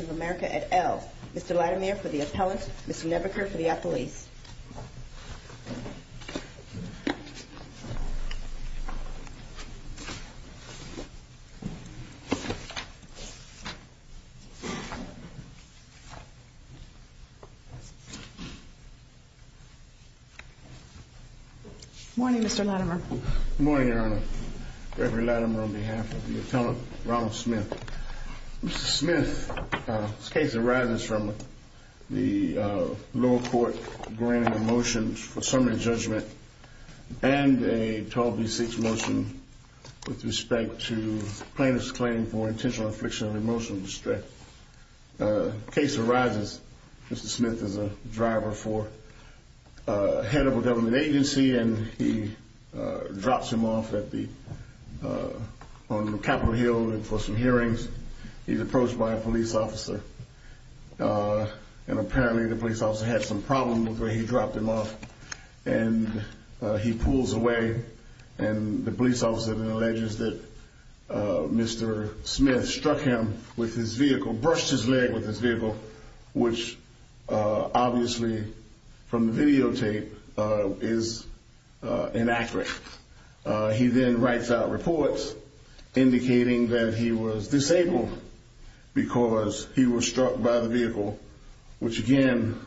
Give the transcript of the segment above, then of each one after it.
of America et al. Mr. Latimer for the appellant, Mr. Nebuchadnezzar for the appellate. Please. Morning, Mr. Latimer. Good morning, Your Honor. Reverend Latimer on behalf of the appellant, Ronald Smith. Mr. Smith, this case arises from the lower court granting a motion for summary judgment and a 12D6 motion with respect to plaintiff's claim for intentional affliction of emotional distress. The case arises, Mr. Smith is a driver for a head of a government agency and he drops him off on Capitol Hill for some hearings. He's approached by a police officer and apparently the police officer had some problem with where he dropped him off. And he pulls away and the police officer then alleges that Mr. Smith struck him with his vehicle, brushed his leg with his vehicle, which obviously from the videotape is inaccurate. He then writes out reports indicating that he was disabled because he was struck by the vehicle, which again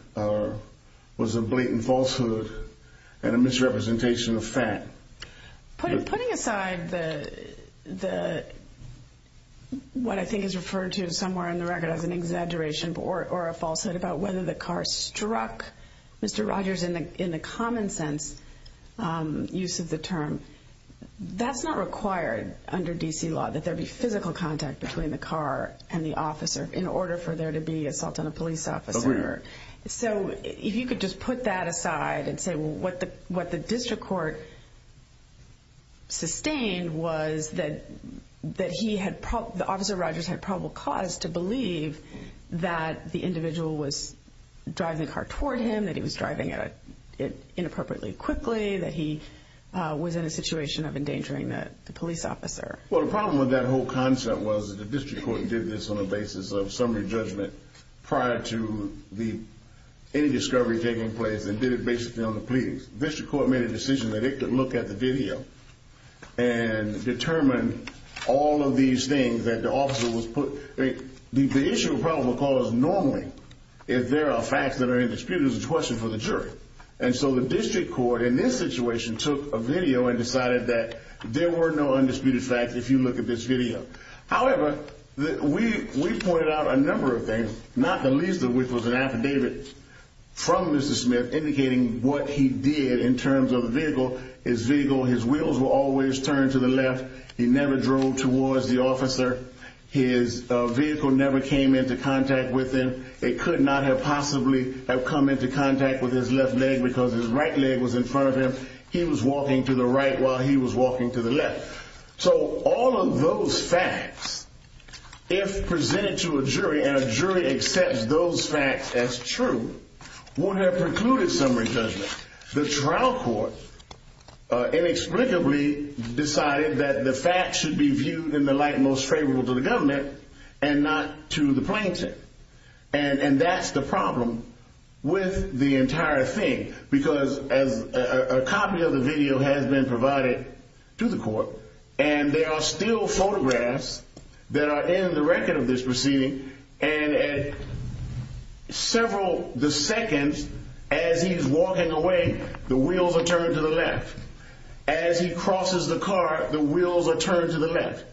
was a blatant falsehood and a misrepresentation of fact. Putting aside what I think is referred to somewhere in the record as an exaggeration or a falsehood about whether the car struck Mr. Rogers in the common sense use of the term, that's not required under D.C. law that there be physical contact between the car and the officer in order for there to be assault on a police officer. So if you could just put that aside and say what the district court sustained was that the officer Rogers had probable cause to believe that the individual was driving the car toward him, that he was driving it inappropriately quickly, that he was in a situation of endangering the police officer. Well, the problem with that whole concept was that the district court did this on the basis of summary judgment prior to any discovery taking place and did it basically on the plea. District court made a decision that it could look at the video and determine all of these things that the officer was put. The issue of probable cause normally, if there are facts that are indisputable, is a question for the jury. And so the district court in this situation took a video and decided that there were no undisputed facts. If you look at this video, however, we pointed out a number of things, not the least of which was an affidavit from Mr. Smith indicating what he did in terms of the vehicle is legal. His wheels were always turned to the left. He never drove towards the officer. His vehicle never came into contact with him. It could not have possibly have come into contact with his left leg because his right leg was in front of him. He was walking to the right while he was walking to the left. So all of those facts, if presented to a jury and a jury accepts those facts as true, would have precluded summary judgment. The trial court inexplicably decided that the facts should be viewed in the light most favorable to the government and not to the plaintiff. And that's the problem with the entire thing because a copy of the video has been provided to the court and there are still photographs that are in the record of this proceeding. And several the seconds as he's walking away, the wheels are turned to the left. As he crosses the car, the wheels are turned to the left.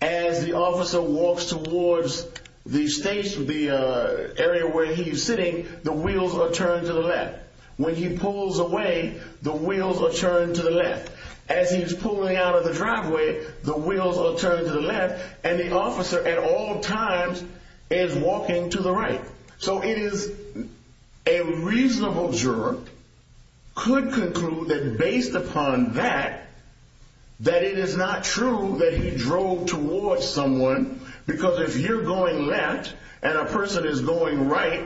As the officer walks towards the station, the area where he's sitting, the wheels are turned to the left. When he pulls away, the wheels are turned to the left. As he's pulling out of the driveway, the wheels are turned to the left. And the officer at all times is walking to the right. So it is a reasonable juror could conclude that based upon that, that it is not true that he drove towards someone. Because if you're going left and a person is going right,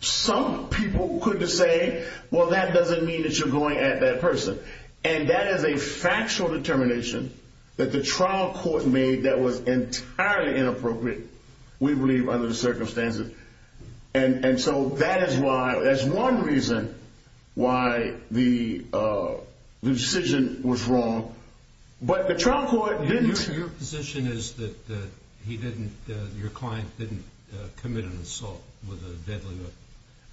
some people could say, well, that doesn't mean that you're going at that person. And that is a factual determination that the trial court made that was entirely inappropriate, we believe, under the circumstances. And so that is why, that's one reason why the decision was wrong. But the trial court didn't... Your position is that he didn't, your client didn't commit an assault with a deadly weapon?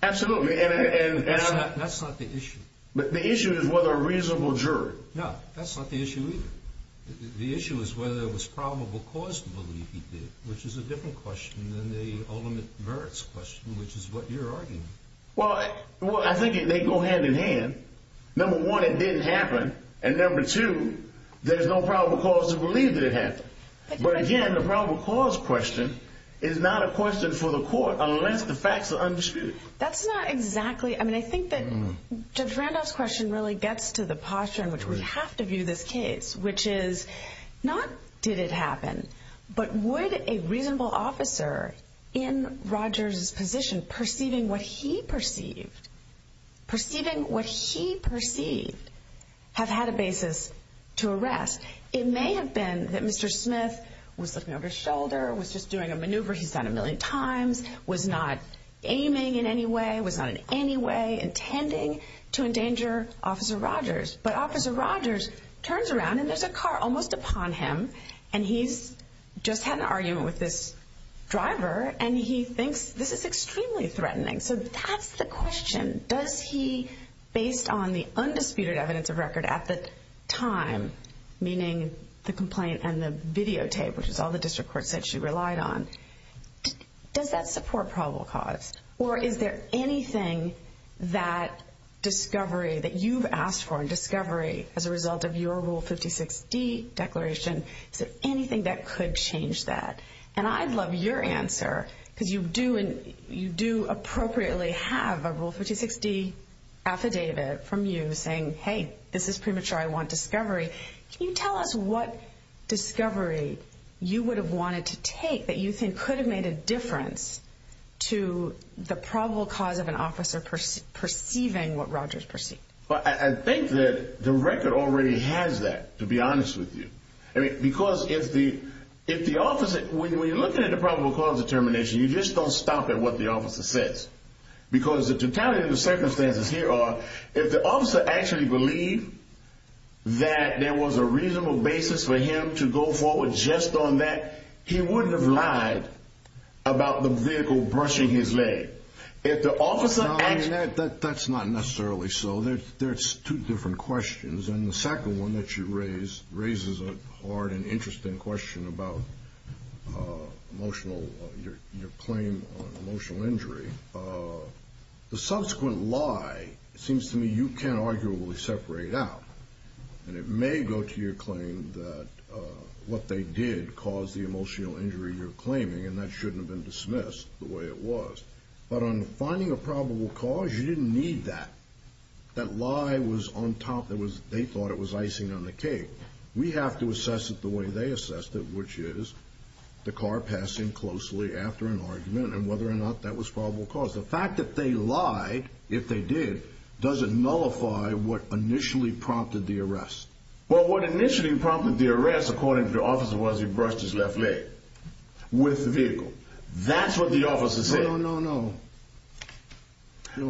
Absolutely. That's not the issue. But the issue is whether a reasonable juror... No, that's not the issue either. The issue is whether it was probable cause to believe he did, which is a different question than the ultimate merits question, which is what you're arguing. Well, I think they go hand in hand. Number one, it didn't happen. And number two, there's no probable cause to believe that it happened. But again, the probable cause question is not a question for the court unless the facts are undisputed. That's not exactly... I mean, I think that Judge Randolph's question really gets to the posture in which we have to view this case, which is not did it happen, but would a reasonable officer in Rogers' position perceiving what he perceived, perceiving what he perceived, have had a basis to arrest? It may have been that Mr. Smith was looking over his shoulder, was just doing a maneuver he's done a million times, was not aiming in any way, was not in any way intending to endanger Officer Rogers. But Officer Rogers turns around, and there's a car almost upon him. And he's just had an argument with this driver, and he thinks this is extremely threatening. So that's the question. Does he, based on the undisputed evidence of record at the time, meaning the complaint and the videotape, which is all the district courts said she relied on, does that support probable cause? Or is there anything that discovery, that you've asked for in discovery as a result of your Rule 56D declaration, is there anything that could change that? And I'd love your answer, because you do appropriately have a Rule 56D affidavit from you saying, hey, this is premature, I want discovery. Can you tell us what discovery you would have wanted to take that you think could have made a difference to the probable cause of an officer perceiving what Rogers perceived? Well, I think that the record already has that, to be honest with you. Because if the officer, when you're looking at the probable cause determination, you just don't stop at what the officer says. Because the totality of the circumstances here are, if the officer actually believed that there was a reasonable basis for him to go forward just on that, he wouldn't have lied about the vehicle brushing his leg. That's not necessarily so. There's two different questions. And the second one that you raise raises a hard and interesting question about your claim on emotional injury. The subsequent lie seems to me you can't arguably separate out. And it may go to your claim that what they did caused the emotional injury you're claiming, and that shouldn't have been dismissed the way it was. But on finding a probable cause, you didn't need that. That lie was on top. They thought it was icing on the cake. We have to assess it the way they assessed it, which is the car passing closely after an argument and whether or not that was probable cause. The fact that they lied, if they did, doesn't nullify what initially prompted the arrest. Well, what initially prompted the arrest, according to the officer, was he brushed his left leg with the vehicle. That's what the officer said. No, no, no.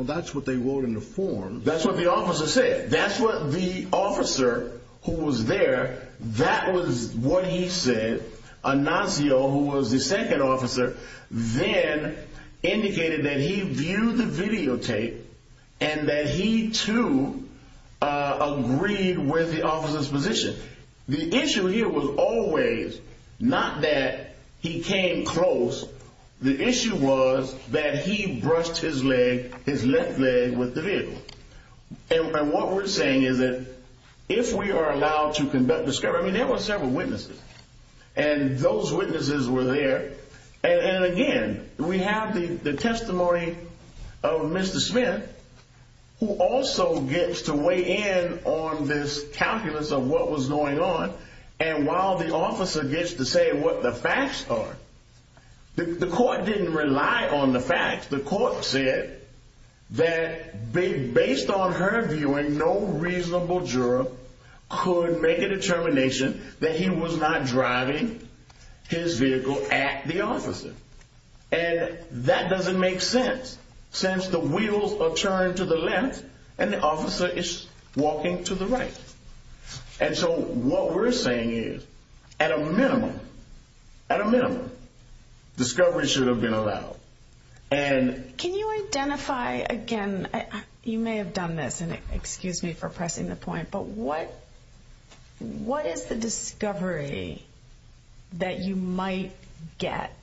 That's what they wrote in the form. That's what the officer said. That's what the officer who was there, that was what he said. Ignacio, who was the second officer, then indicated that he viewed the videotape and that he, too, agreed with the officer's position. The issue here was always not that he came close. The issue was that he brushed his leg, his left leg, with the vehicle. And what we're saying is that if we are allowed to discover, I mean, there were several witnesses, and those witnesses were there. And, again, we have the testimony of Mr. Smith, who also gets to weigh in on this calculus of what was going on. And while the officer gets to say what the facts are, the court didn't rely on the facts. The court said that based on her viewing, no reasonable juror could make a determination that he was not driving his vehicle at the officer. And that doesn't make sense, since the wheels are turned to the left and the officer is walking to the right. And so what we're saying is, at a minimum, at a minimum, discovery should have been allowed. Can you identify, again, you may have done this, and excuse me for pressing the point, but what is the discovery that you might get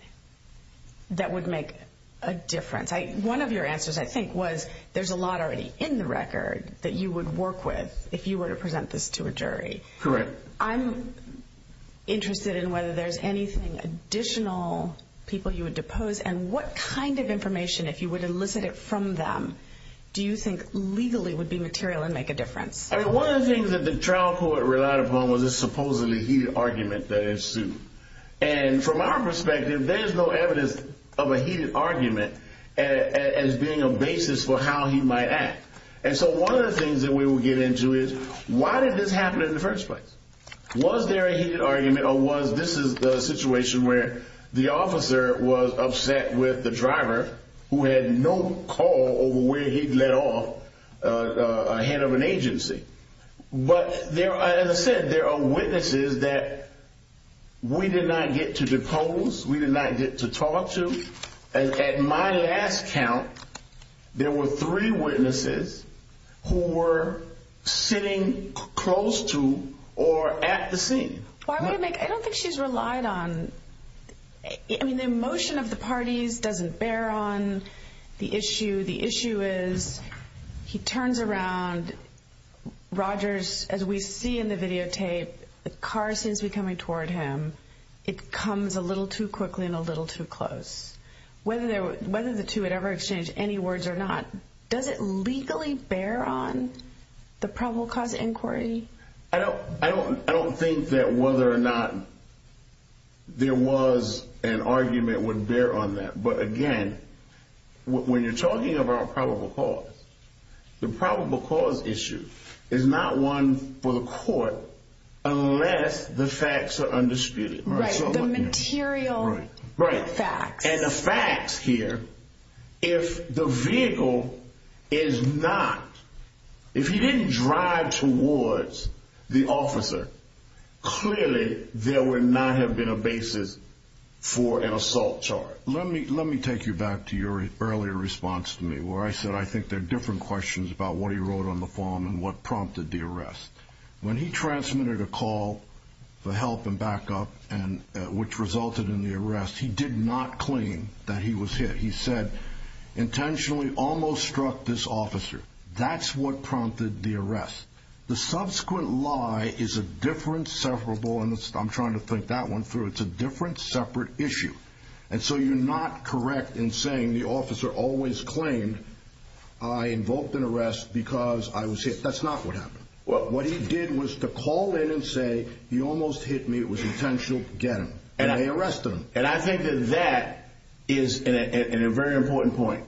that would make a difference? One of your answers, I think, was there's a lot already in the record that you would work with if you were to present this to a jury. Correct. I'm interested in whether there's anything additional people you would depose, and what kind of information, if you would elicit it from them, do you think legally would be material and make a difference? I mean, one of the things that the trial court relied upon was this supposedly heated argument that ensued. And from our perspective, there's no evidence of a heated argument as being a basis for how he might act. And so one of the things that we will get into is, why did this happen in the first place? Was there a heated argument, or was this a situation where the officer was upset with the driver, who had no call over where he'd let off a head of an agency? But as I said, there are witnesses that we did not get to depose, we did not get to talk to. At my last count, there were three witnesses who were sitting close to or at the scene. Why would it make – I don't think she's relied on – I mean, the emotion of the parties doesn't bear on the issue. The issue is, he turns around, Rogers, as we see in the videotape, the car seems to be coming toward him, it comes a little too quickly and a little too close. Whether the two had ever exchanged any words or not, does it legally bear on the probable cause inquiry? I don't think that whether or not there was an argument would bear on that. But again, when you're talking about probable cause, the probable cause issue is not one for the court unless the facts are undisputed. Right, the material facts. And the facts here, if the vehicle is not – if he didn't drive towards the officer, clearly there would not have been a basis for an assault charge. Let me take you back to your earlier response to me, where I said I think there are different questions about what he wrote on the form and what prompted the arrest. When he transmitted a call for help and backup, which resulted in the arrest, he did not claim that he was hit. He said, intentionally almost struck this officer. That's what prompted the arrest. The subsequent lie is a different, separable – and I'm trying to think that one through – it's a different, separate issue. And so you're not correct in saying the officer always claimed, I invoked an arrest because I was hit. That's not what happened. What he did was to call in and say, he almost hit me. It was intentional. Get him. And they arrested him. And I think that that is a very important point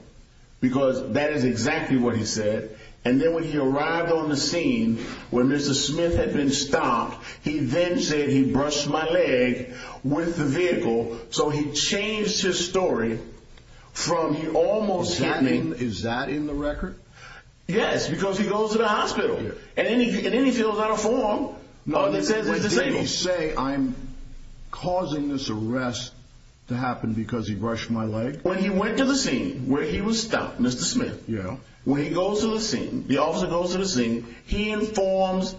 because that is exactly what he said. And then when he arrived on the scene, when Mr. Smith had been stopped, he then said he brushed my leg with the vehicle. So he changed his story from he almost hit me. Is that in the record? Yes, because he goes to the hospital. And then he fills out a form that says he's disabled. Did he say, I'm causing this arrest to happen because he brushed my leg? When he went to the scene where he was stopped, Mr. Smith. Yeah. When he goes to the scene, the officer goes to the scene, he informs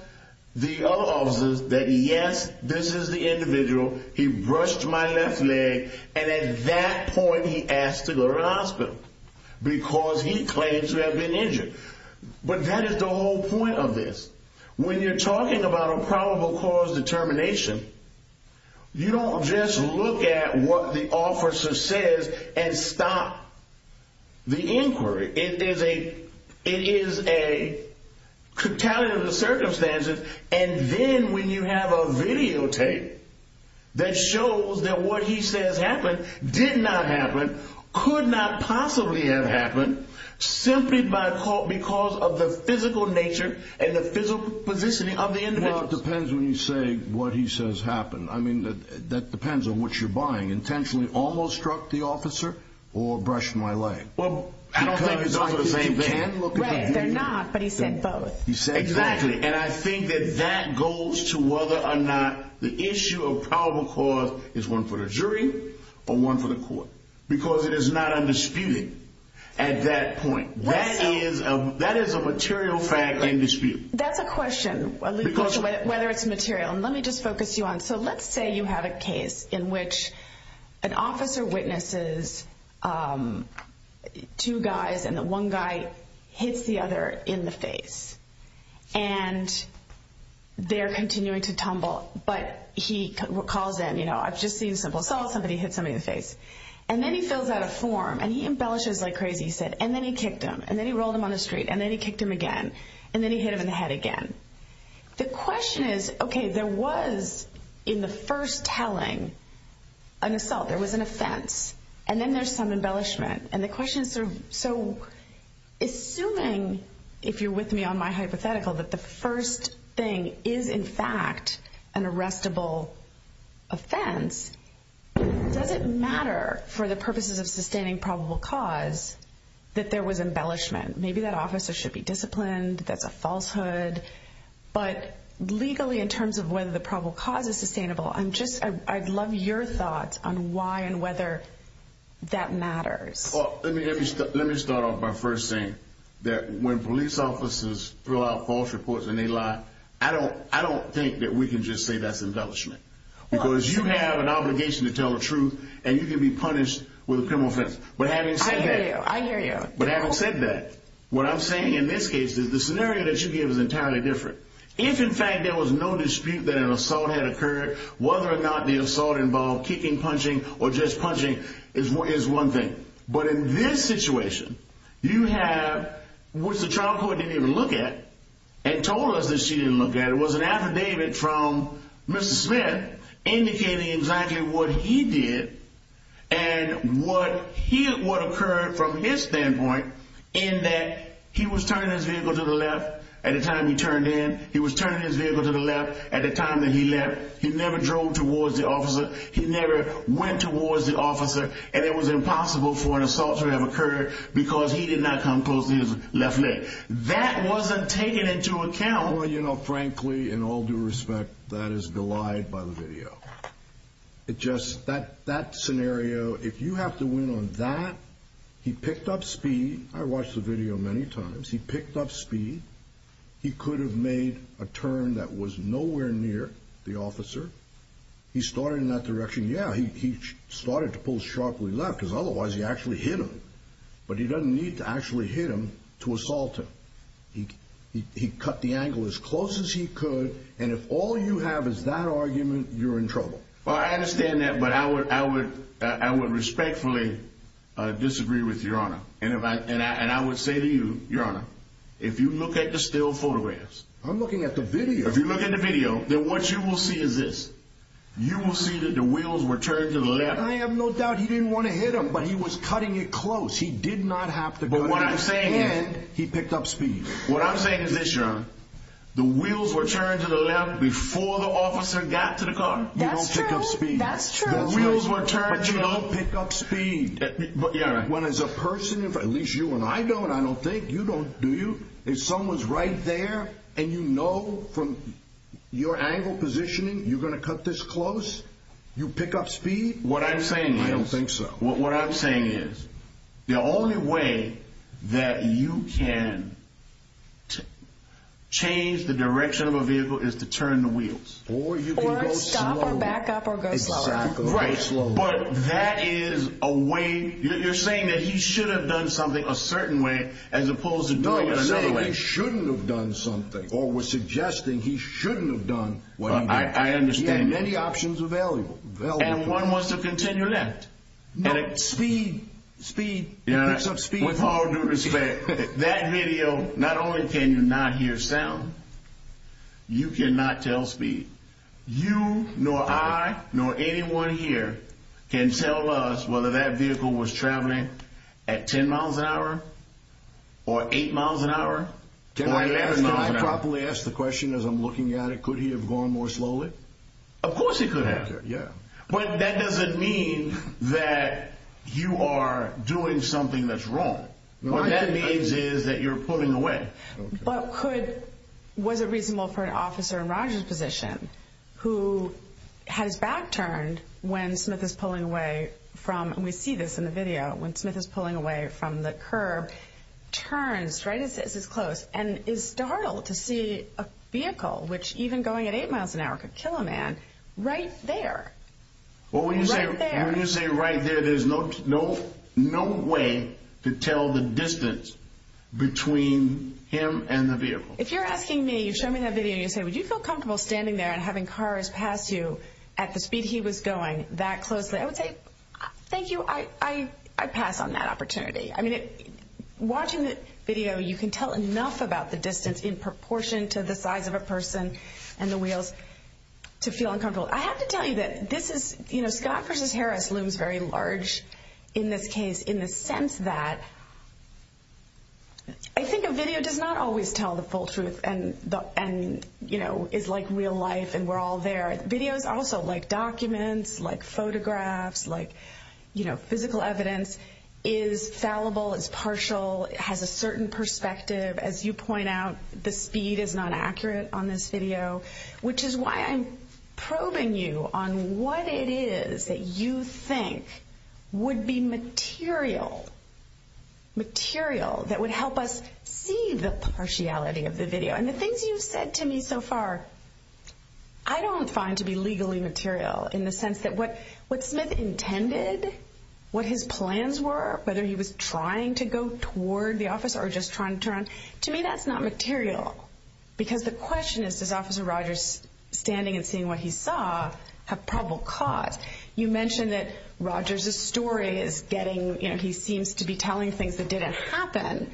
the other officers that, yes, this is the individual. He brushed my left leg. And at that point, he asked to go to the hospital because he claims to have been injured. But that is the whole point of this. When you're talking about a probable cause determination, you don't just look at what the officer says and stop the inquiry. It is a catalog of the circumstances. And then when you have a videotape that shows that what he says happened, did not happen, could not possibly have happened, simply because of the physical nature and the physical position of the individual. Well, it depends when you say what he says happened. I mean, that depends on what you're buying. Intentionally almost struck the officer or brushed my leg? Well, I don't think it's the same thing. Right, they're not, but he said both. Exactly. And I think that that goes to whether or not the issue of probable cause is one for the jury or one for the court. Because it is not undisputed at that point. That is a material fact in dispute. That's a question, whether it's material. So let's say you have a case in which an officer witnesses two guys and one guy hits the other in the face. And they're continuing to tumble, but he calls in, you know, I've just seen a simple assault. Somebody hit somebody in the face. And then he fills out a form and he embellishes like crazy, he said. And then he kicked him. And then he rolled him on the street. And then he kicked him again. And then he hit him in the head again. The question is, okay, there was in the first telling an assault. There was an offense. And then there's some embellishment. And the question is so assuming, if you're with me on my hypothetical, that the first thing is in fact an arrestable offense, does it matter for the purposes of sustaining probable cause that there was embellishment? Maybe that officer should be disciplined. That's a falsehood. But legally in terms of whether the probable cause is sustainable, I'd love your thoughts on why and whether that matters. Well, let me start off by first saying that when police officers fill out false reports and they lie, I don't think that we can just say that's embellishment. Because you have an obligation to tell the truth, and you can be punished with a criminal offense. I hear you. I hear you. But having said that, what I'm saying in this case is the scenario that you give is entirely different. If, in fact, there was no dispute that an assault had occurred, whether or not the assault involved kicking, punching, or just punching is one thing. But in this situation, you have what the trial court didn't even look at and told us that she didn't look at. There was an affidavit from Mr. Smith indicating exactly what he did and what occurred from his standpoint in that he was turning his vehicle to the left at the time he turned in. He was turning his vehicle to the left at the time that he left. He never drove towards the officer. He never went towards the officer. And it was impossible for an assault to have occurred because he did not come close to his left leg. That wasn't taken into account. Well, you know, frankly, in all due respect, that is belied by the video. It just, that scenario, if you have to win on that, he picked up speed. I watched the video many times. He picked up speed. He could have made a turn that was nowhere near the officer. He started in that direction. Yeah, he started to pull sharply left because otherwise he actually hit him. But he doesn't need to actually hit him to assault him. He cut the angle as close as he could. And if all you have is that argument, you're in trouble. Well, I understand that. But I would respectfully disagree with Your Honor. And I would say to you, Your Honor, if you look at the still photographs. I'm looking at the video. If you look at the video, then what you will see is this. You will see that the wheels were turned to the left. I have no doubt he didn't want to hit him, but he was cutting it close. He did not have to cut it. But what I'm saying is he picked up speed. What I'm saying is this, Your Honor. The wheels were turned to the left before the officer got to the car. You don't pick up speed. That's true. The wheels were turned to the left. But you don't pick up speed. Yeah, right. When as a person, at least you and I don't. I don't think. You don't, do you? If someone's right there and you know from your angle positioning you're going to cut this close, you pick up speed? What I'm saying is. I don't think so. What I'm saying is the only way that you can change the direction of a vehicle is to turn the wheels. Or you can go slower. Or stop or back up or go slower. Exactly. Go slower. Right, but that is a way. You're saying that he should have done something a certain way as opposed to doing it another way. No, we're saying he shouldn't have done something. Or we're suggesting he shouldn't have done what he did. I understand. He had many options available. And one was to continue left. No, speed, speed. You pick up speed. With all due respect, that video, not only can you not hear sound, you cannot tell speed. You nor I nor anyone here can tell us whether that vehicle was traveling at 10 miles an hour or 8 miles an hour. Can I properly ask the question as I'm looking at it? Could he have gone more slowly? Of course he could have. Yeah. But that doesn't mean that you are doing something that's wrong. What that means is that you're pulling away. But could, was it reasonable for an officer in Roger's position who has back turned when Smith is pulling away from, and we see this in the video, when Smith is pulling away from the curb, turns right as it's close and is startled to see a vehicle, which even going at 8 miles an hour could kill a man, right there. Well, when you say right there, there's no way to tell the distance between him and the vehicle. If you're asking me, you show me that video and you say, would you feel comfortable standing there and having cars pass you at the speed he was going that closely? I would say, thank you. I pass on that opportunity. I mean, watching the video, you can tell enough about the distance in proportion to the size of a person and the wheels to feel uncomfortable. I have to tell you that this is, you know, Scott versus Harris looms very large in this case, in the sense that I think a video does not always tell the full truth and, you know, is like real life and we're all there. But videos also like documents, like photographs, like, you know, physical evidence is fallible, is partial, has a certain perspective. As you point out, the speed is not accurate on this video, which is why I'm probing you on what it is that you think would be material, material that would help us see the partiality of the video. And the things you've said to me so far, I don't find to be legally material in the sense that what what Smith intended, what his plans were, whether he was trying to go toward the office or just trying to turn to me, that's not material. Because the question is, does Officer Rogers standing and seeing what he saw have probable cause? You mentioned that Rogers's story is getting, you know, he seems to be telling things that didn't happen.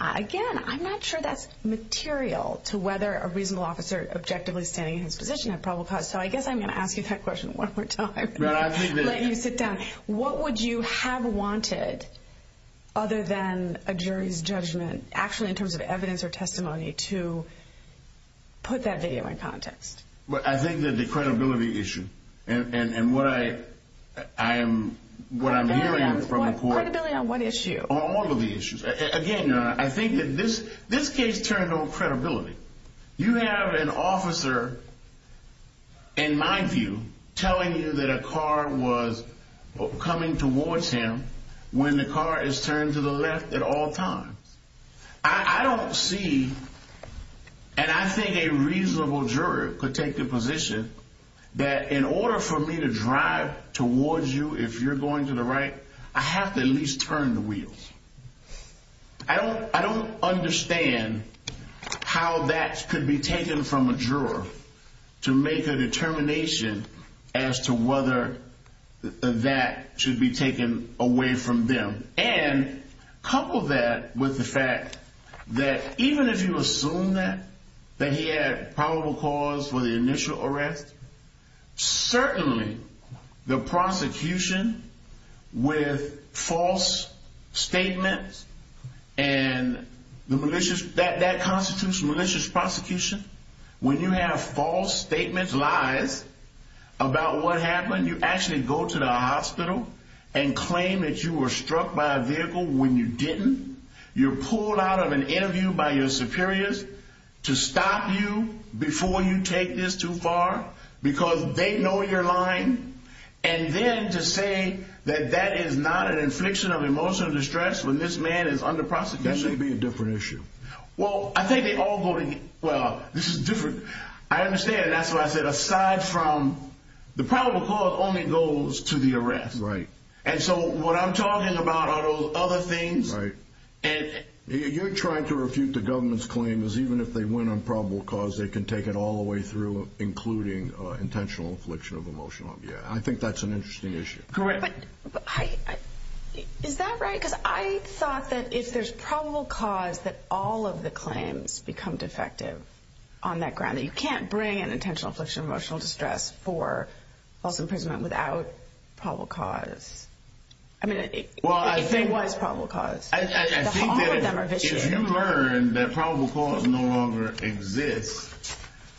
Again, I'm not sure that's material to whether a reasonable officer objectively standing in his position had probable cause. So I guess I'm going to ask you that question one more time. Let you sit down. What would you have wanted other than a jury's judgment, actually in terms of evidence or testimony to put that video in context? Well, I think that the credibility issue and what I am, what I'm hearing from the court. Credibility on what issue? All of the issues. Again, I think that this this case turned on credibility. You have an officer. In my view, telling you that a car was coming towards him when the car is turned to the left at all times. I don't see. And I think a reasonable juror could take the position that in order for me to drive towards you, if you're going to the right, I have to at least turn the wheels. I don't I don't understand how that could be taken from a juror to make a determination as to whether that should be taken away from them. And couple that with the fact that even if you assume that that he had probable cause for the initial arrest, certainly the prosecution with false statements and the malicious that that constitutes malicious prosecution. When you have false statements, lies about what happened, you actually go to the hospital and claim that you were struck by a vehicle when you didn't. You're pulled out of an interview by your superiors to stop you before you take this too far because they know your line. And then to say that that is not an infliction of emotional distress. When this man is under prosecution, it'd be a different issue. Well, I think they all voting. Well, this is different. I understand. That's why I said aside from the probable cause only goes to the arrest. Right. And so what I'm talking about are those other things. Right. And you're trying to refute the government's claim is even if they win on probable cause, they can take it all the way through, including intentional affliction of emotional. Yeah, I think that's an interesting issue. Correct. But is that right? Because I thought that if there's probable cause that all of the claims become defective on that ground, you can't bring an intentional affliction of emotional distress for false imprisonment without probable cause. I mean, well, I think was probable cause. I think that if you learn that probable cause no longer exists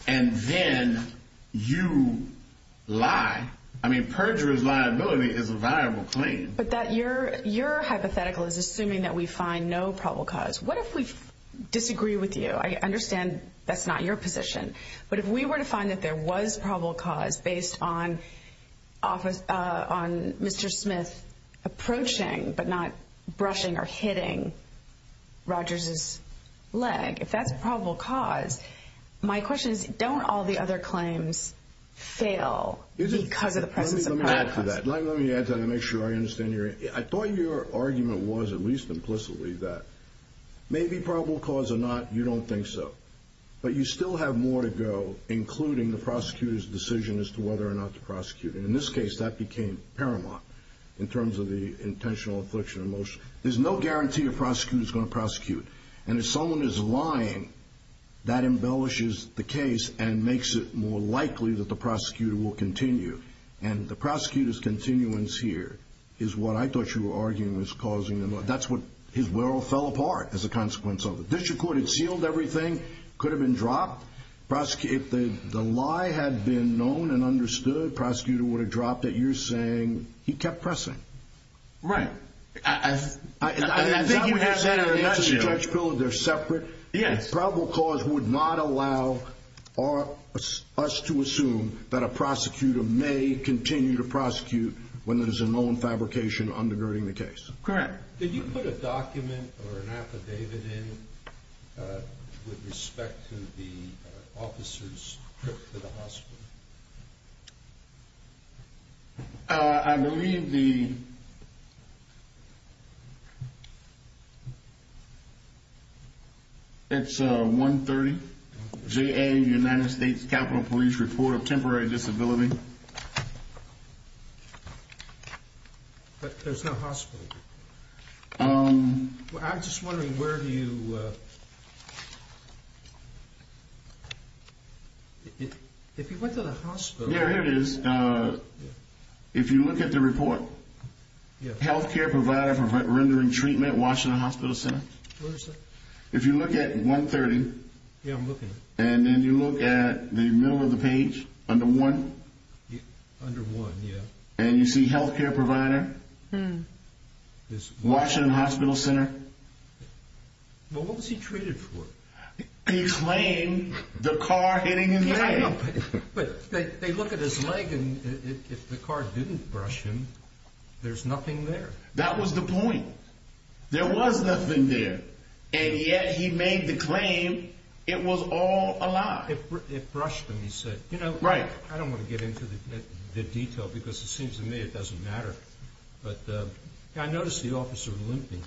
and then you lie. I mean, perjurer's liability is a viable claim, but that you're you're hypothetical is assuming that we find no probable cause. What if we disagree with you? I understand that's not your position. But if we were to find that there was probable cause based on office on Mr. Smith approaching, but not brushing or hitting Rogers's leg, if that's probable cause. My question is, don't all the other claims fail because of the presence of that? Let me add to that and make sure I understand you. I thought your argument was at least implicitly that maybe probable cause or not. You don't think so, but you still have more to go, including the prosecutor's decision as to whether or not to prosecute. And in this case, that became paramount in terms of the intentional affliction of emotion. There's no guarantee a prosecutor is going to prosecute. And if someone is lying, that embellishes the case and makes it more likely that the prosecutor will continue. And the prosecutor's continuance here is what I thought you were arguing was causing. That's what his world fell apart as a consequence of the district court had sealed. Everything could have been dropped. Prosecute. The lie had been known and understood. Prosecutor would have dropped it. You're saying he kept pressing. Right. I think you have a judge bill. They're separate. Yes. Probable cause would not allow us to assume that a prosecutor may continue to prosecute when there is a known fabrication undergirding the case. Correct. Did you put a document or an affidavit in with respect to the officer's trip to the hospital? I believe the. It's a one thirty J.A. States Capitol Police report of temporary disability. But there's no hospital. I'm just wondering where do you. If you went to the hospital. There it is. If you look at the report. Health care provider for rendering treatment. Washington Hospital Center. If you look at one thirty. And then you look at the middle of the page under one. Under one. And you see health care provider. This Washington Hospital Center. What was he treated for? He claimed the car hitting him. But they look at his leg and the car didn't brush him. There's nothing there. That was the point. There was nothing there. And yet he made the claim. It was all a lie. It brushed him. He said, you know, right. I don't want to get into the detail because it seems to me it doesn't matter. But I noticed the officer limping.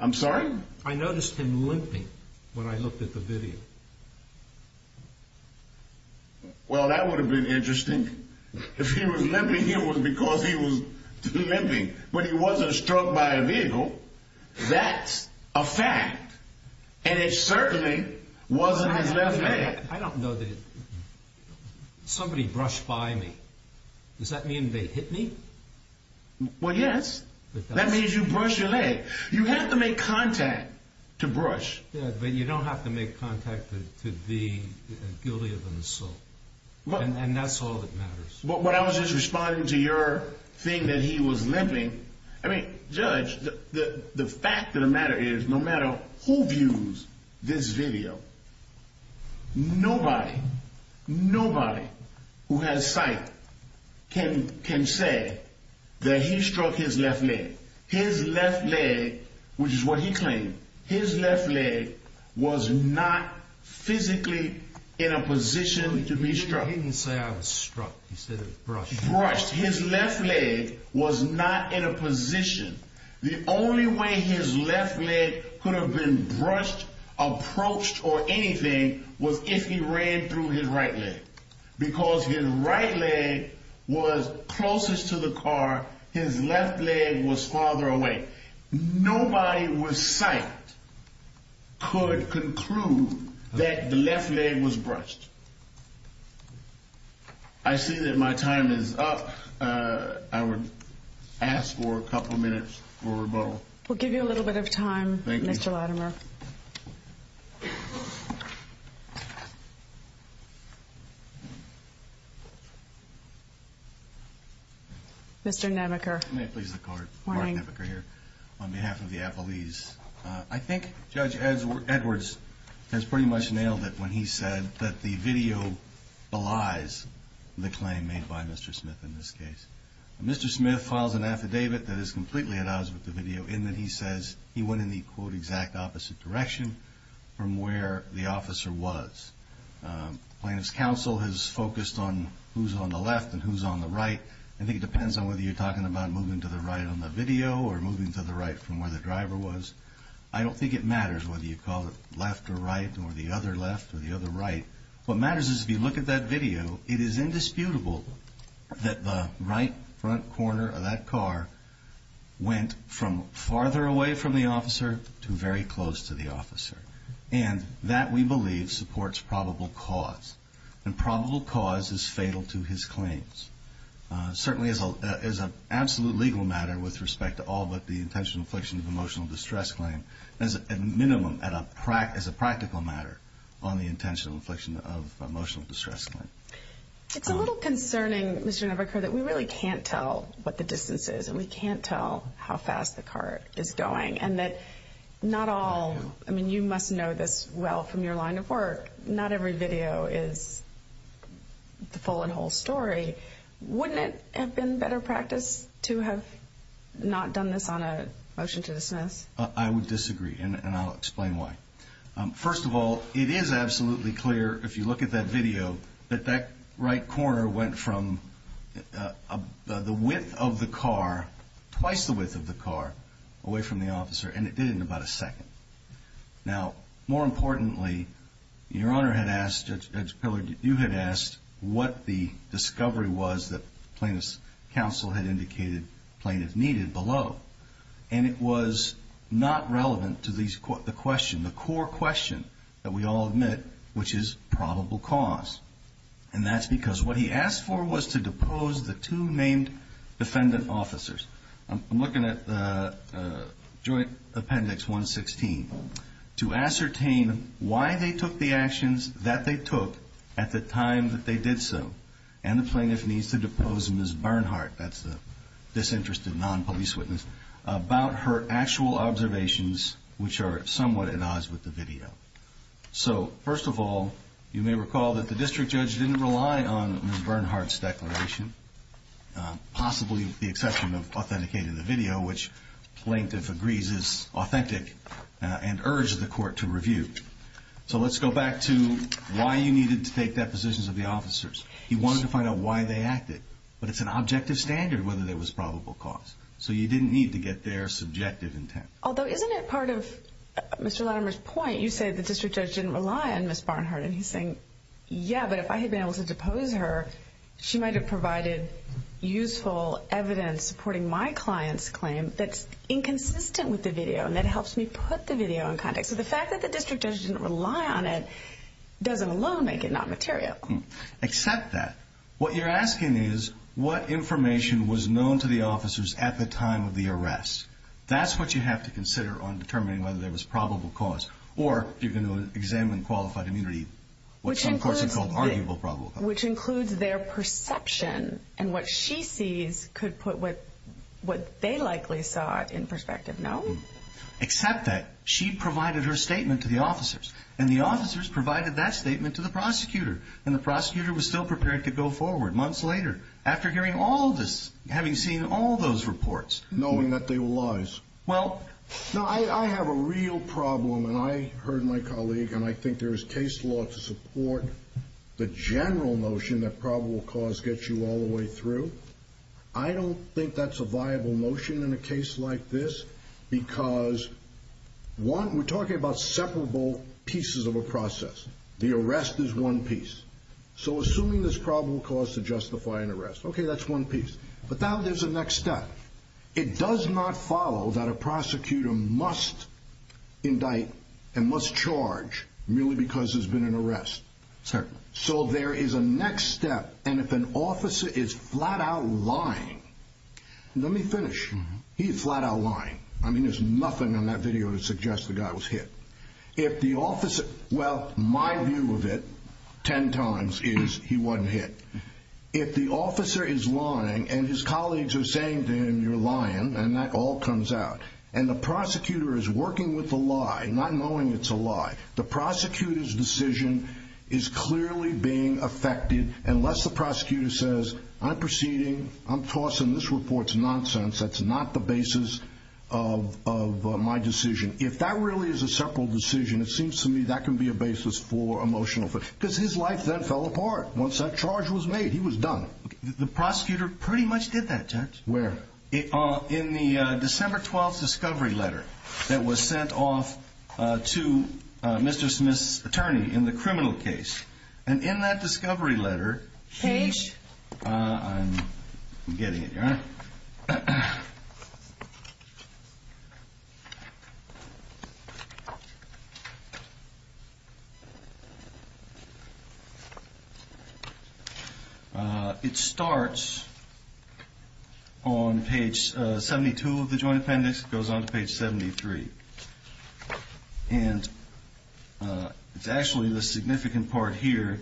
I'm sorry. I noticed him limping when I looked at the video. Well, that would have been interesting if he was limping. He was because he was limping. But he wasn't struck by a vehicle. That's a fact. And it certainly wasn't. I don't know that. Somebody brushed by me. Does that mean they hit me? Well, yes. That means you brush your leg. You have to make contact to brush. But you don't have to make contact to be guilty of an assault. And that's all that matters. But what I was just responding to your thing that he was limping. I mean, judge, the fact of the matter is no matter who views this video. Nobody, nobody who has sight can can say that he struck his left leg. His left leg, which is what he claimed, his left leg was not physically in a position to be struck. He didn't say I was struck. He said it was brushed. Brushed. His left leg was not in a position. The only way his left leg could have been brushed, approached or anything was if he ran through his right leg. Because his right leg was closest to the car. His left leg was farther away. Nobody with sight. Could conclude that the left leg was brushed. I see that my time is up. I would ask for a couple of minutes for rebuttal. We'll give you a little bit of time, Mr. Latimer. Mr. Namaker. May it please the court. Mark Namaker here on behalf of the appellees. I think Judge Edwards has pretty much nailed it when he said that the video belies the claim made by Mr. Smith in this case. Mr. Smith files an affidavit that is completely at odds with the video in that he says he went in the quote exact opposite direction from where the officer was. Plaintiff's counsel has focused on who's on the left and who's on the right. I think it depends on whether you're talking about moving to the right on the video or moving to the right from where the driver was. I don't think it matters whether you call it left or right or the other left or the other right. What matters is if you look at that video, it is indisputable that the right front corner of that car went from farther away from the officer to very close to the officer. And that, we believe, supports probable cause. And probable cause is fatal to his claims. Certainly as an absolute legal matter with respect to all but the intentional infliction of emotional distress claim, as a minimum as a practical matter on the intentional infliction of emotional distress claim. It's a little concerning, Mr. Namaker, that we really can't tell what the distance is and we can't tell how fast the car is going. And that not all, I mean, you must know this well from your line of work, not every video is the full and whole story. Wouldn't it have been better practice to have not done this on a motion to dismiss? I would disagree, and I'll explain why. First of all, it is absolutely clear if you look at that video that that right corner went from the width of the car, twice the width of the car, away from the officer. And it did in about a second. Now, more importantly, your Honor had asked, Judge Pillard, you had asked what the discovery was that plaintiff's counsel had indicated plaintiff needed below. And it was not relevant to the question, the core question that we all admit, which is probable cause. And that's because what he asked for was to depose the two named defendant officers. I'm looking at Joint Appendix 116, to ascertain why they took the actions that they took at the time that they did so. And the plaintiff needs to depose Ms. Bernhardt, that's the disinterested non-police witness, about her actual observations, which are somewhat at odds with the video. So, first of all, you may recall that the district judge didn't rely on Ms. Bernhardt's declaration, possibly with the exception of authenticating the video, which plaintiff agrees is authentic and urged the court to review. So let's go back to why you needed to take depositions of the officers. He wanted to find out why they acted. But it's an objective standard whether there was probable cause. So you didn't need to get their subjective intent. Although, isn't it part of Mr. Latimer's point? You said the district judge didn't rely on Ms. Bernhardt. And he's saying, yeah, but if I had been able to depose her, she might have provided useful evidence supporting my client's claim that's inconsistent with the video. And that helps me put the video in context. So the fact that the district judge didn't rely on it doesn't alone make it not material. Except that what you're asking is what information was known to the officers at the time of the arrest. That's what you have to consider on determining whether there was probable cause. Or you're going to examine qualified immunity, which some courts have called arguable probable cause. Which includes their perception and what she sees could put what they likely saw in perspective. Except that she provided her statement to the officers. And the officers provided that statement to the prosecutor. And the prosecutor was still prepared to go forward months later after hearing all this, having seen all those reports. Knowing that they were lies. Well, I have a real problem. And I heard my colleague, and I think there is case law to support the general notion that probable cause gets you all the way through. I don't think that's a viable notion in a case like this. Because one, we're talking about separable pieces of a process. The arrest is one piece. So assuming there's probable cause to justify an arrest. Okay, that's one piece. But now there's a next step. It does not follow that a prosecutor must indict and must charge merely because there's been an arrest. Certainly. So there is a next step. And if an officer is flat out lying. Let me finish. He's flat out lying. I mean, there's nothing on that video to suggest the guy was hit. If the officer, well, my view of it, ten times, is he wasn't hit. If the officer is lying, and his colleagues are saying to him, you're lying, and that all comes out. And the prosecutor is working with the lie, not knowing it's a lie. The prosecutor's decision is clearly being affected unless the prosecutor says, I'm proceeding. I'm tossing this report's nonsense. That's not the basis of my decision. If that really is a separable decision, it seems to me that can be a basis for emotional. Because his life then fell apart once that charge was made. He was done. The prosecutor pretty much did that, Judge. Where? In the December 12th discovery letter that was sent off to Mr. Smith's attorney in the criminal case. And in that discovery letter. Page. It starts on page 72 of the joint appendix. It goes on to page 73. And it's actually the significant part here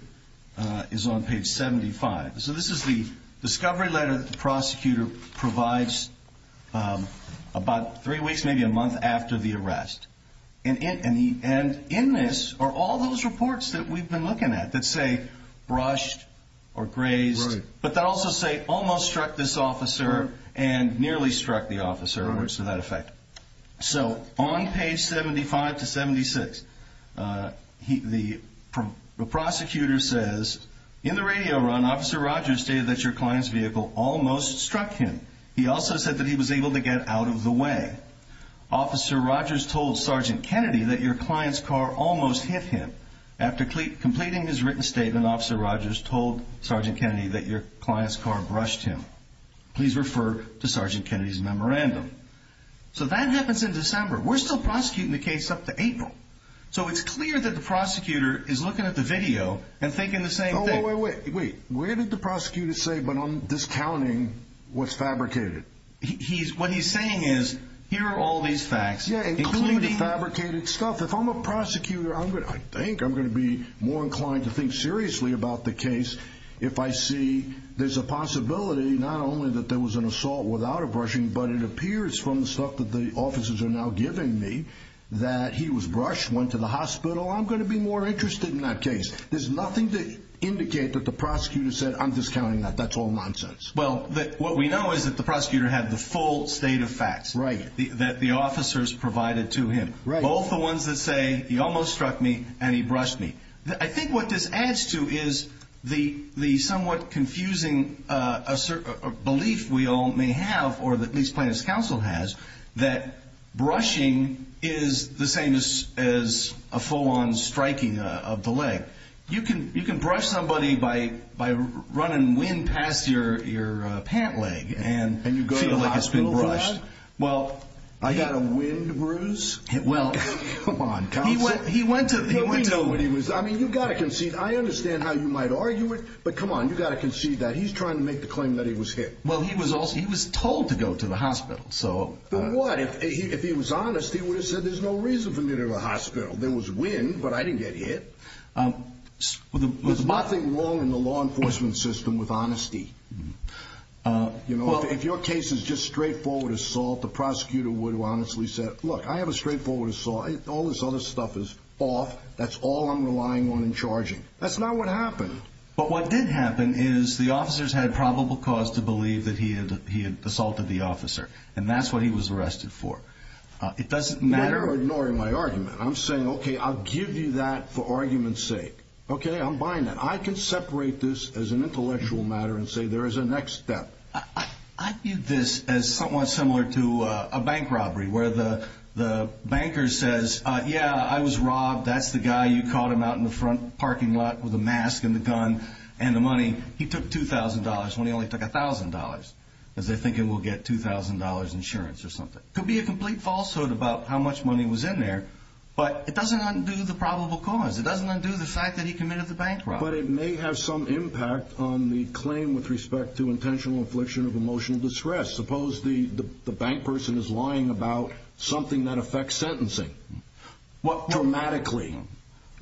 is on page 75. So this is the discovery letter that the prosecutor provides about three weeks, maybe a month after the arrest. And in this are all those reports that we've been looking at that say brushed or grazed. Right. But that also say almost struck this officer and nearly struck the officer. Right. So that effect. So on page 75 to 76, the prosecutor says, In the radio run, Officer Rogers stated that your client's vehicle almost struck him. He also said that he was able to get out of the way. Officer Rogers told Sergeant Kennedy that your client's car almost hit him. After completing his written statement, Officer Rogers told Sergeant Kennedy that your client's car brushed him. Please refer to Sergeant Kennedy's memorandum. So that happens in December. We're still prosecuting the case up to April. So it's clear that the prosecutor is looking at the video and thinking the same thing. Wait, wait, wait. Where did the prosecutor say, but I'm discounting what's fabricated. He's what he's saying is, here are all these facts. Yeah. Including the fabricated stuff. If I'm a prosecutor, I think I'm going to be more inclined to think seriously about the case. If I see there's a possibility, not only that there was an assault without a brushing, but it appears from the stuff that the officers are now giving me that he was brushed, went to the hospital. I'm going to be more interested in that case. There's nothing to indicate that the prosecutor said, I'm discounting that. That's all nonsense. Well, what we know is that the prosecutor had the full state of facts. Right. That the officers provided to him. Right. Both the ones that say, he almost struck me and he brushed me. I think what this adds to is the somewhat confusing belief we all may have, or at least plaintiff's counsel has, that brushing is the same as a full-on striking of the leg. You can brush somebody by running wind past your pant leg and feel like it's been brushed. And you go to the hospital for that? I got a wind bruise? Come on, counsel. He went to the window. I mean, you've got to concede. I understand how you might argue it, but come on, you've got to concede that. He's trying to make the claim that he was hit. Well, he was told to go to the hospital. Then what? If he was honest, he would have said there's no reason for me to go to the hospital. There was wind, but I didn't get hit. There's nothing wrong in the law enforcement system with honesty. If your case is just straightforward assault, the prosecutor would have honestly said, look, I have a straightforward assault. All this other stuff is off. That's all I'm relying on in charging. That's not what happened. But what did happen is the officers had probable cause to believe that he had assaulted the officer, and that's what he was arrested for. It doesn't matter. You're ignoring my argument. I'm saying, okay, I'll give you that for argument's sake. Okay, I'm buying that. I can separate this as an intellectual matter and say there is a next step. I view this as somewhat similar to a bank robbery where the banker says, yeah, I was robbed. That's the guy. You caught him out in the front parking lot with a mask and the gun and the money. He took $2,000 when he only took $1,000 because they think he will get $2,000 insurance or something. Could be a complete falsehood about how much money was in there, but it doesn't undo the probable cause. It doesn't undo the fact that he committed the bank robbery. But it may have some impact on the claim with respect to intentional infliction of emotional distress. Suppose the bank person is lying about something that affects sentencing. What dramatically.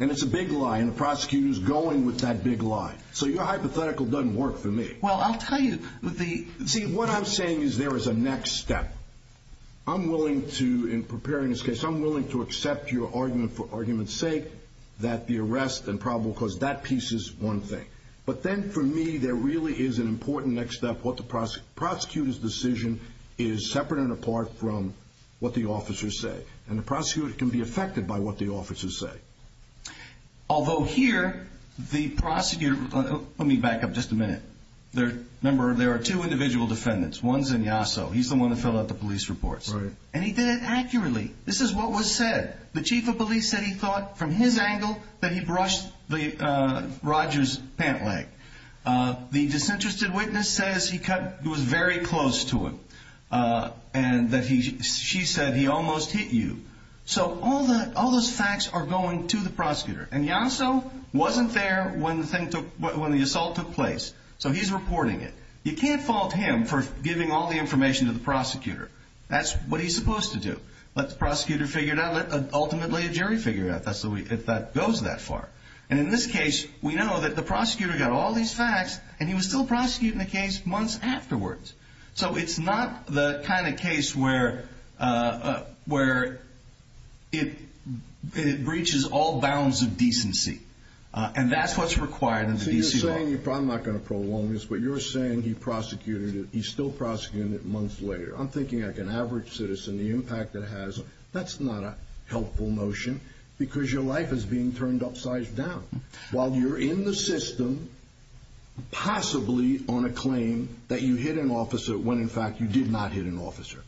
And it's a big lie, and the prosecutor is going with that big lie. So your hypothetical doesn't work for me. Well, I'll tell you. See, what I'm saying is there is a next step. I'm willing to, in preparing this case, I'm willing to accept your argument for argument's sake that the arrest and probable cause, that piece is one thing. But then for me, there really is an important next step. What the prosecutor's decision is separate and apart from what the officers say. And the prosecutor can be affected by what the officers say. Although here, the prosecutor, let me back up just a minute. Remember, there are two individual defendants. One's in Yasso. He's the one that filled out the police reports. Right. And he did it accurately. This is what was said. The chief of police said he thought from his angle that he brushed Roger's pant leg. The disinterested witness says he was very close to him. And she said he almost hit you. So all those facts are going to the prosecutor. And Yasso wasn't there when the assault took place. So he's reporting it. You can't fault him for giving all the information to the prosecutor. That's what he's supposed to do. Let the prosecutor figure it out. Let ultimately a jury figure it out. If that goes that far. And in this case, we know that the prosecutor got all these facts, and he was still prosecuting the case months afterwards. So it's not the kind of case where it breaches all bounds of decency. And that's what's required in the DC law. So you're saying, I'm not going to prolong this, but you're saying he still prosecuted it months later. I'm thinking like an average citizen, the impact it has. That's not a helpful notion because your life is being turned upside down. While you're in the system, possibly on a claim that you hit an officer when, in fact, you did not hit an officer.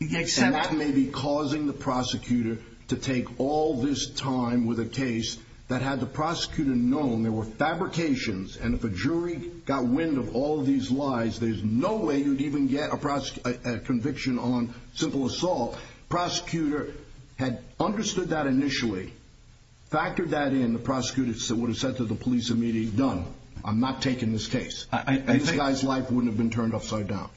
And that may be causing the prosecutor to take all this time with a case that had the prosecutor known there were fabrications. And if a jury got wind of all these lies, there's no way you'd even get a conviction on simple assault. Prosecutor had understood that initially, factored that in. The prosecutor would have said to the police immediately, done. I'm not taking this case. This guy's life wouldn't have been turned upside down.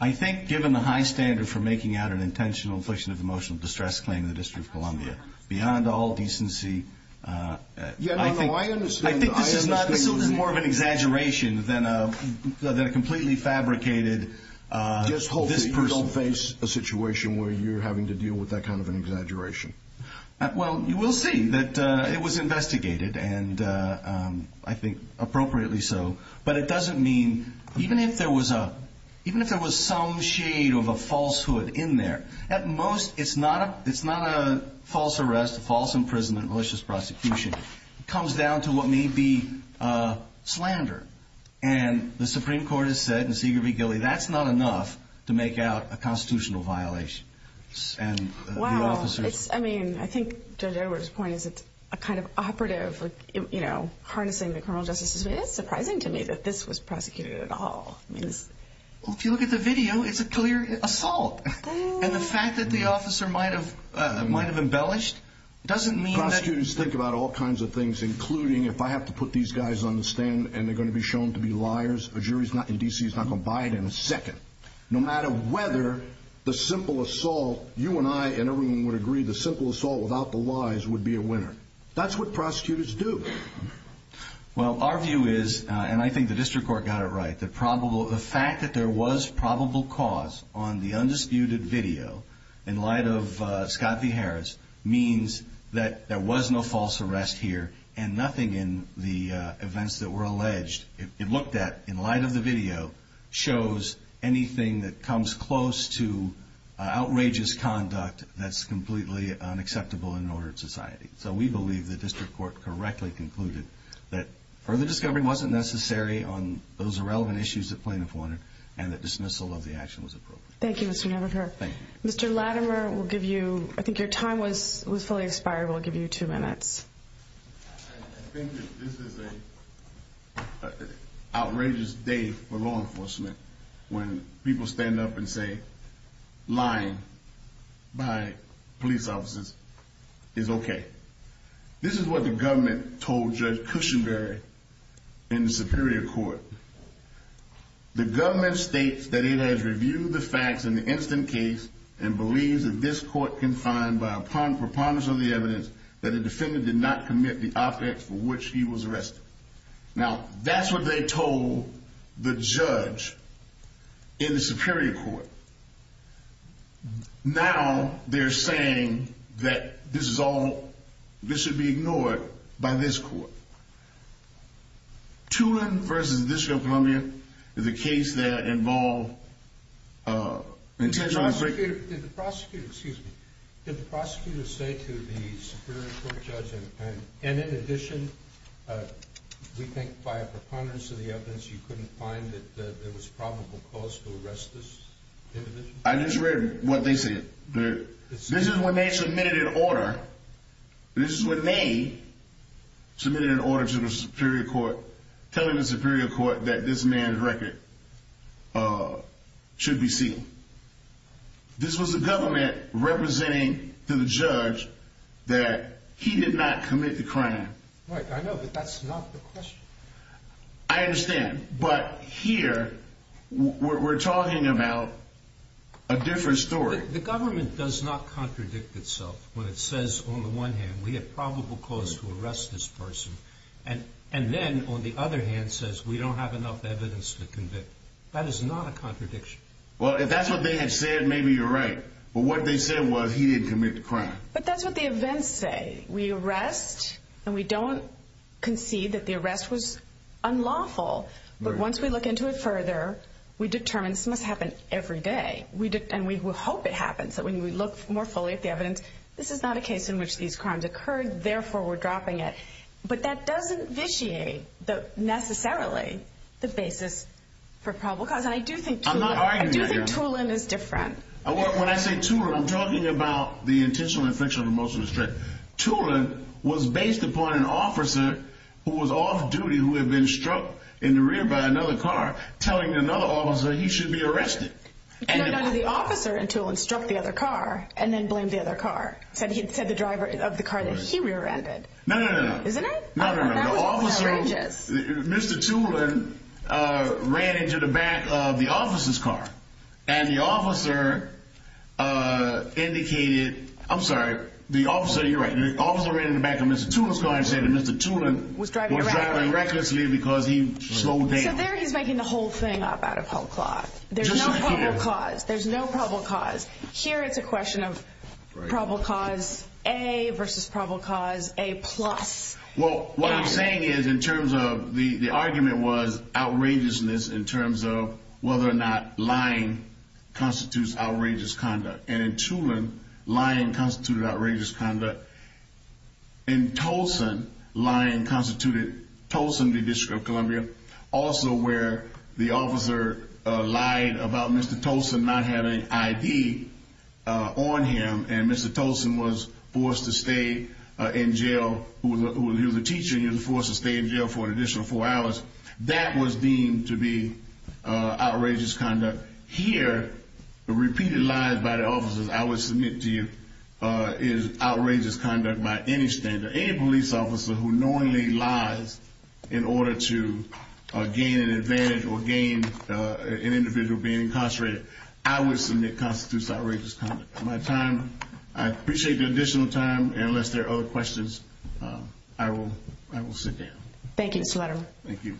I think given the high standard for making out an intentional infliction of emotional distress claim in the District of Columbia, beyond all decency, I think this is more of an exaggeration than a completely fabricated this person. Just hope that you don't face a situation where you're having to deal with that kind of an exaggeration. Well, you will see that it was investigated, and I think appropriately so. But it doesn't mean, even if there was some shade of a falsehood in there, at most it's not a false arrest, false imprisonment, malicious prosecution. It comes down to what may be slander. And the Supreme Court has said, and Seigert v. Gilley, that's not enough to make out a constitutional violation. Wow. I mean, I think Judge Edwards' point is it's a kind of operative, you know, harnessing the criminal justice system. It is surprising to me that this was prosecuted at all. If you look at the video, it's a clear assault. And the fact that the officer might have embellished doesn't mean that prosecutors think about all kinds of things, including if I have to put these guys on the stand and they're going to be shown to be liars, a jury in D.C. is not going to buy it in a second. No matter whether the simple assault, you and I and everyone would agree, the simple assault without the lies would be a winner. That's what prosecutors do. Well, our view is, and I think the district court got it right, the fact that there was probable cause on the undisputed video in light of Scott v. Harris means that there was no false arrest here and nothing in the events that were alleged. It looked at, in light of the video, shows anything that comes close to outrageous conduct that's completely unacceptable in an ordered society. So we believe the district court correctly concluded that further discovery wasn't necessary on those irrelevant issues that plaintiffs wanted and that dismissal of the action was appropriate. Thank you. Mr. Latimer, I think your time was fully expired. We'll give you two minutes. I think that this is an outrageous day for law enforcement when people stand up and say lying by police officers is okay. This is what the government told Judge Cushenberry in the Superior Court. The government states that it has reviewed the facts in the instant case and believes that this court, confined by a preponderance of the evidence, that a defendant did not commit the offense for which he was arrested. Now, that's what they told the judge in the Superior Court. Now they're saying that this is all, this should be ignored by this court. Tulin v. District of Columbia is a case that involved intentional... Did the prosecutor, excuse me, did the prosecutor say to the Superior Court judge, and in addition, we think by a preponderance of the evidence, you couldn't find that there was probable cause to arrest this individual? I just read what they said. This is when they submitted an order. This is when they submitted an order to the Superior Court telling the Superior Court that this man's record should be sealed. This was the government representing to the judge that he did not commit the crime. Right, I know, but that's not the question. I understand, but here we're talking about a different story. The government does not contradict itself when it says on the one hand, we have probable cause to arrest this person, and then on the other hand says we don't have enough evidence to convict. That is not a contradiction. Well, if that's what they had said, maybe you're right. But what they said was he didn't commit the crime. But that's what the events say. We arrest, and we don't concede that the arrest was unlawful. But once we look into it further, we determine this must happen every day. And we hope it happens, that when we look more fully at the evidence, this is not a case in which these crimes occurred, therefore we're dropping it. But that doesn't vitiate, necessarily, the basis for probable cause. And I do think Tulin is different. When I say Tulin, I'm talking about the intentional infriction of a motion of restraint. Tulin was based upon an officer who was off duty, who had been struck in the rear by another car, telling another officer he should be arrested. No, no, no. The officer in Tulin struck the other car and then blamed the other car, said the driver of the car that he rear-ended. No, no, no. Isn't it? No, no, no. The officer, Mr. Tulin, ran into the back of the officer's car. And the officer indicated, I'm sorry, the officer, you're right, the officer ran into the back of Mr. Tulin's car and said that Mr. Tulin was driving recklessly because he slowed down. So there he's making the whole thing up out of whole cloth. There's no probable cause. There's no probable cause. Here it's a question of probable cause A versus probable cause A plus. Well, what I'm saying is in terms of the argument was outrageousness in terms of whether or not lying constitutes outrageous conduct. And in Tulin, lying constituted outrageous conduct. In Tolson, lying constituted Tolson v. District of Columbia, also where the officer lied about Mr. Tolson not having an ID on him and Mr. Tolson was forced to stay in jail. He was a teacher and he was forced to stay in jail for an additional four hours. That was deemed to be outrageous conduct. Here, the repeated lies by the officers I would submit to you is outrageous conduct by any standard. Any officer who knowingly lies in order to gain an advantage or gain an individual being incarcerated, I would submit constitutes outrageous conduct. I appreciate the additional time. Unless there are other questions, I will sit down. Thank you, Mr. Letterman. Thank you.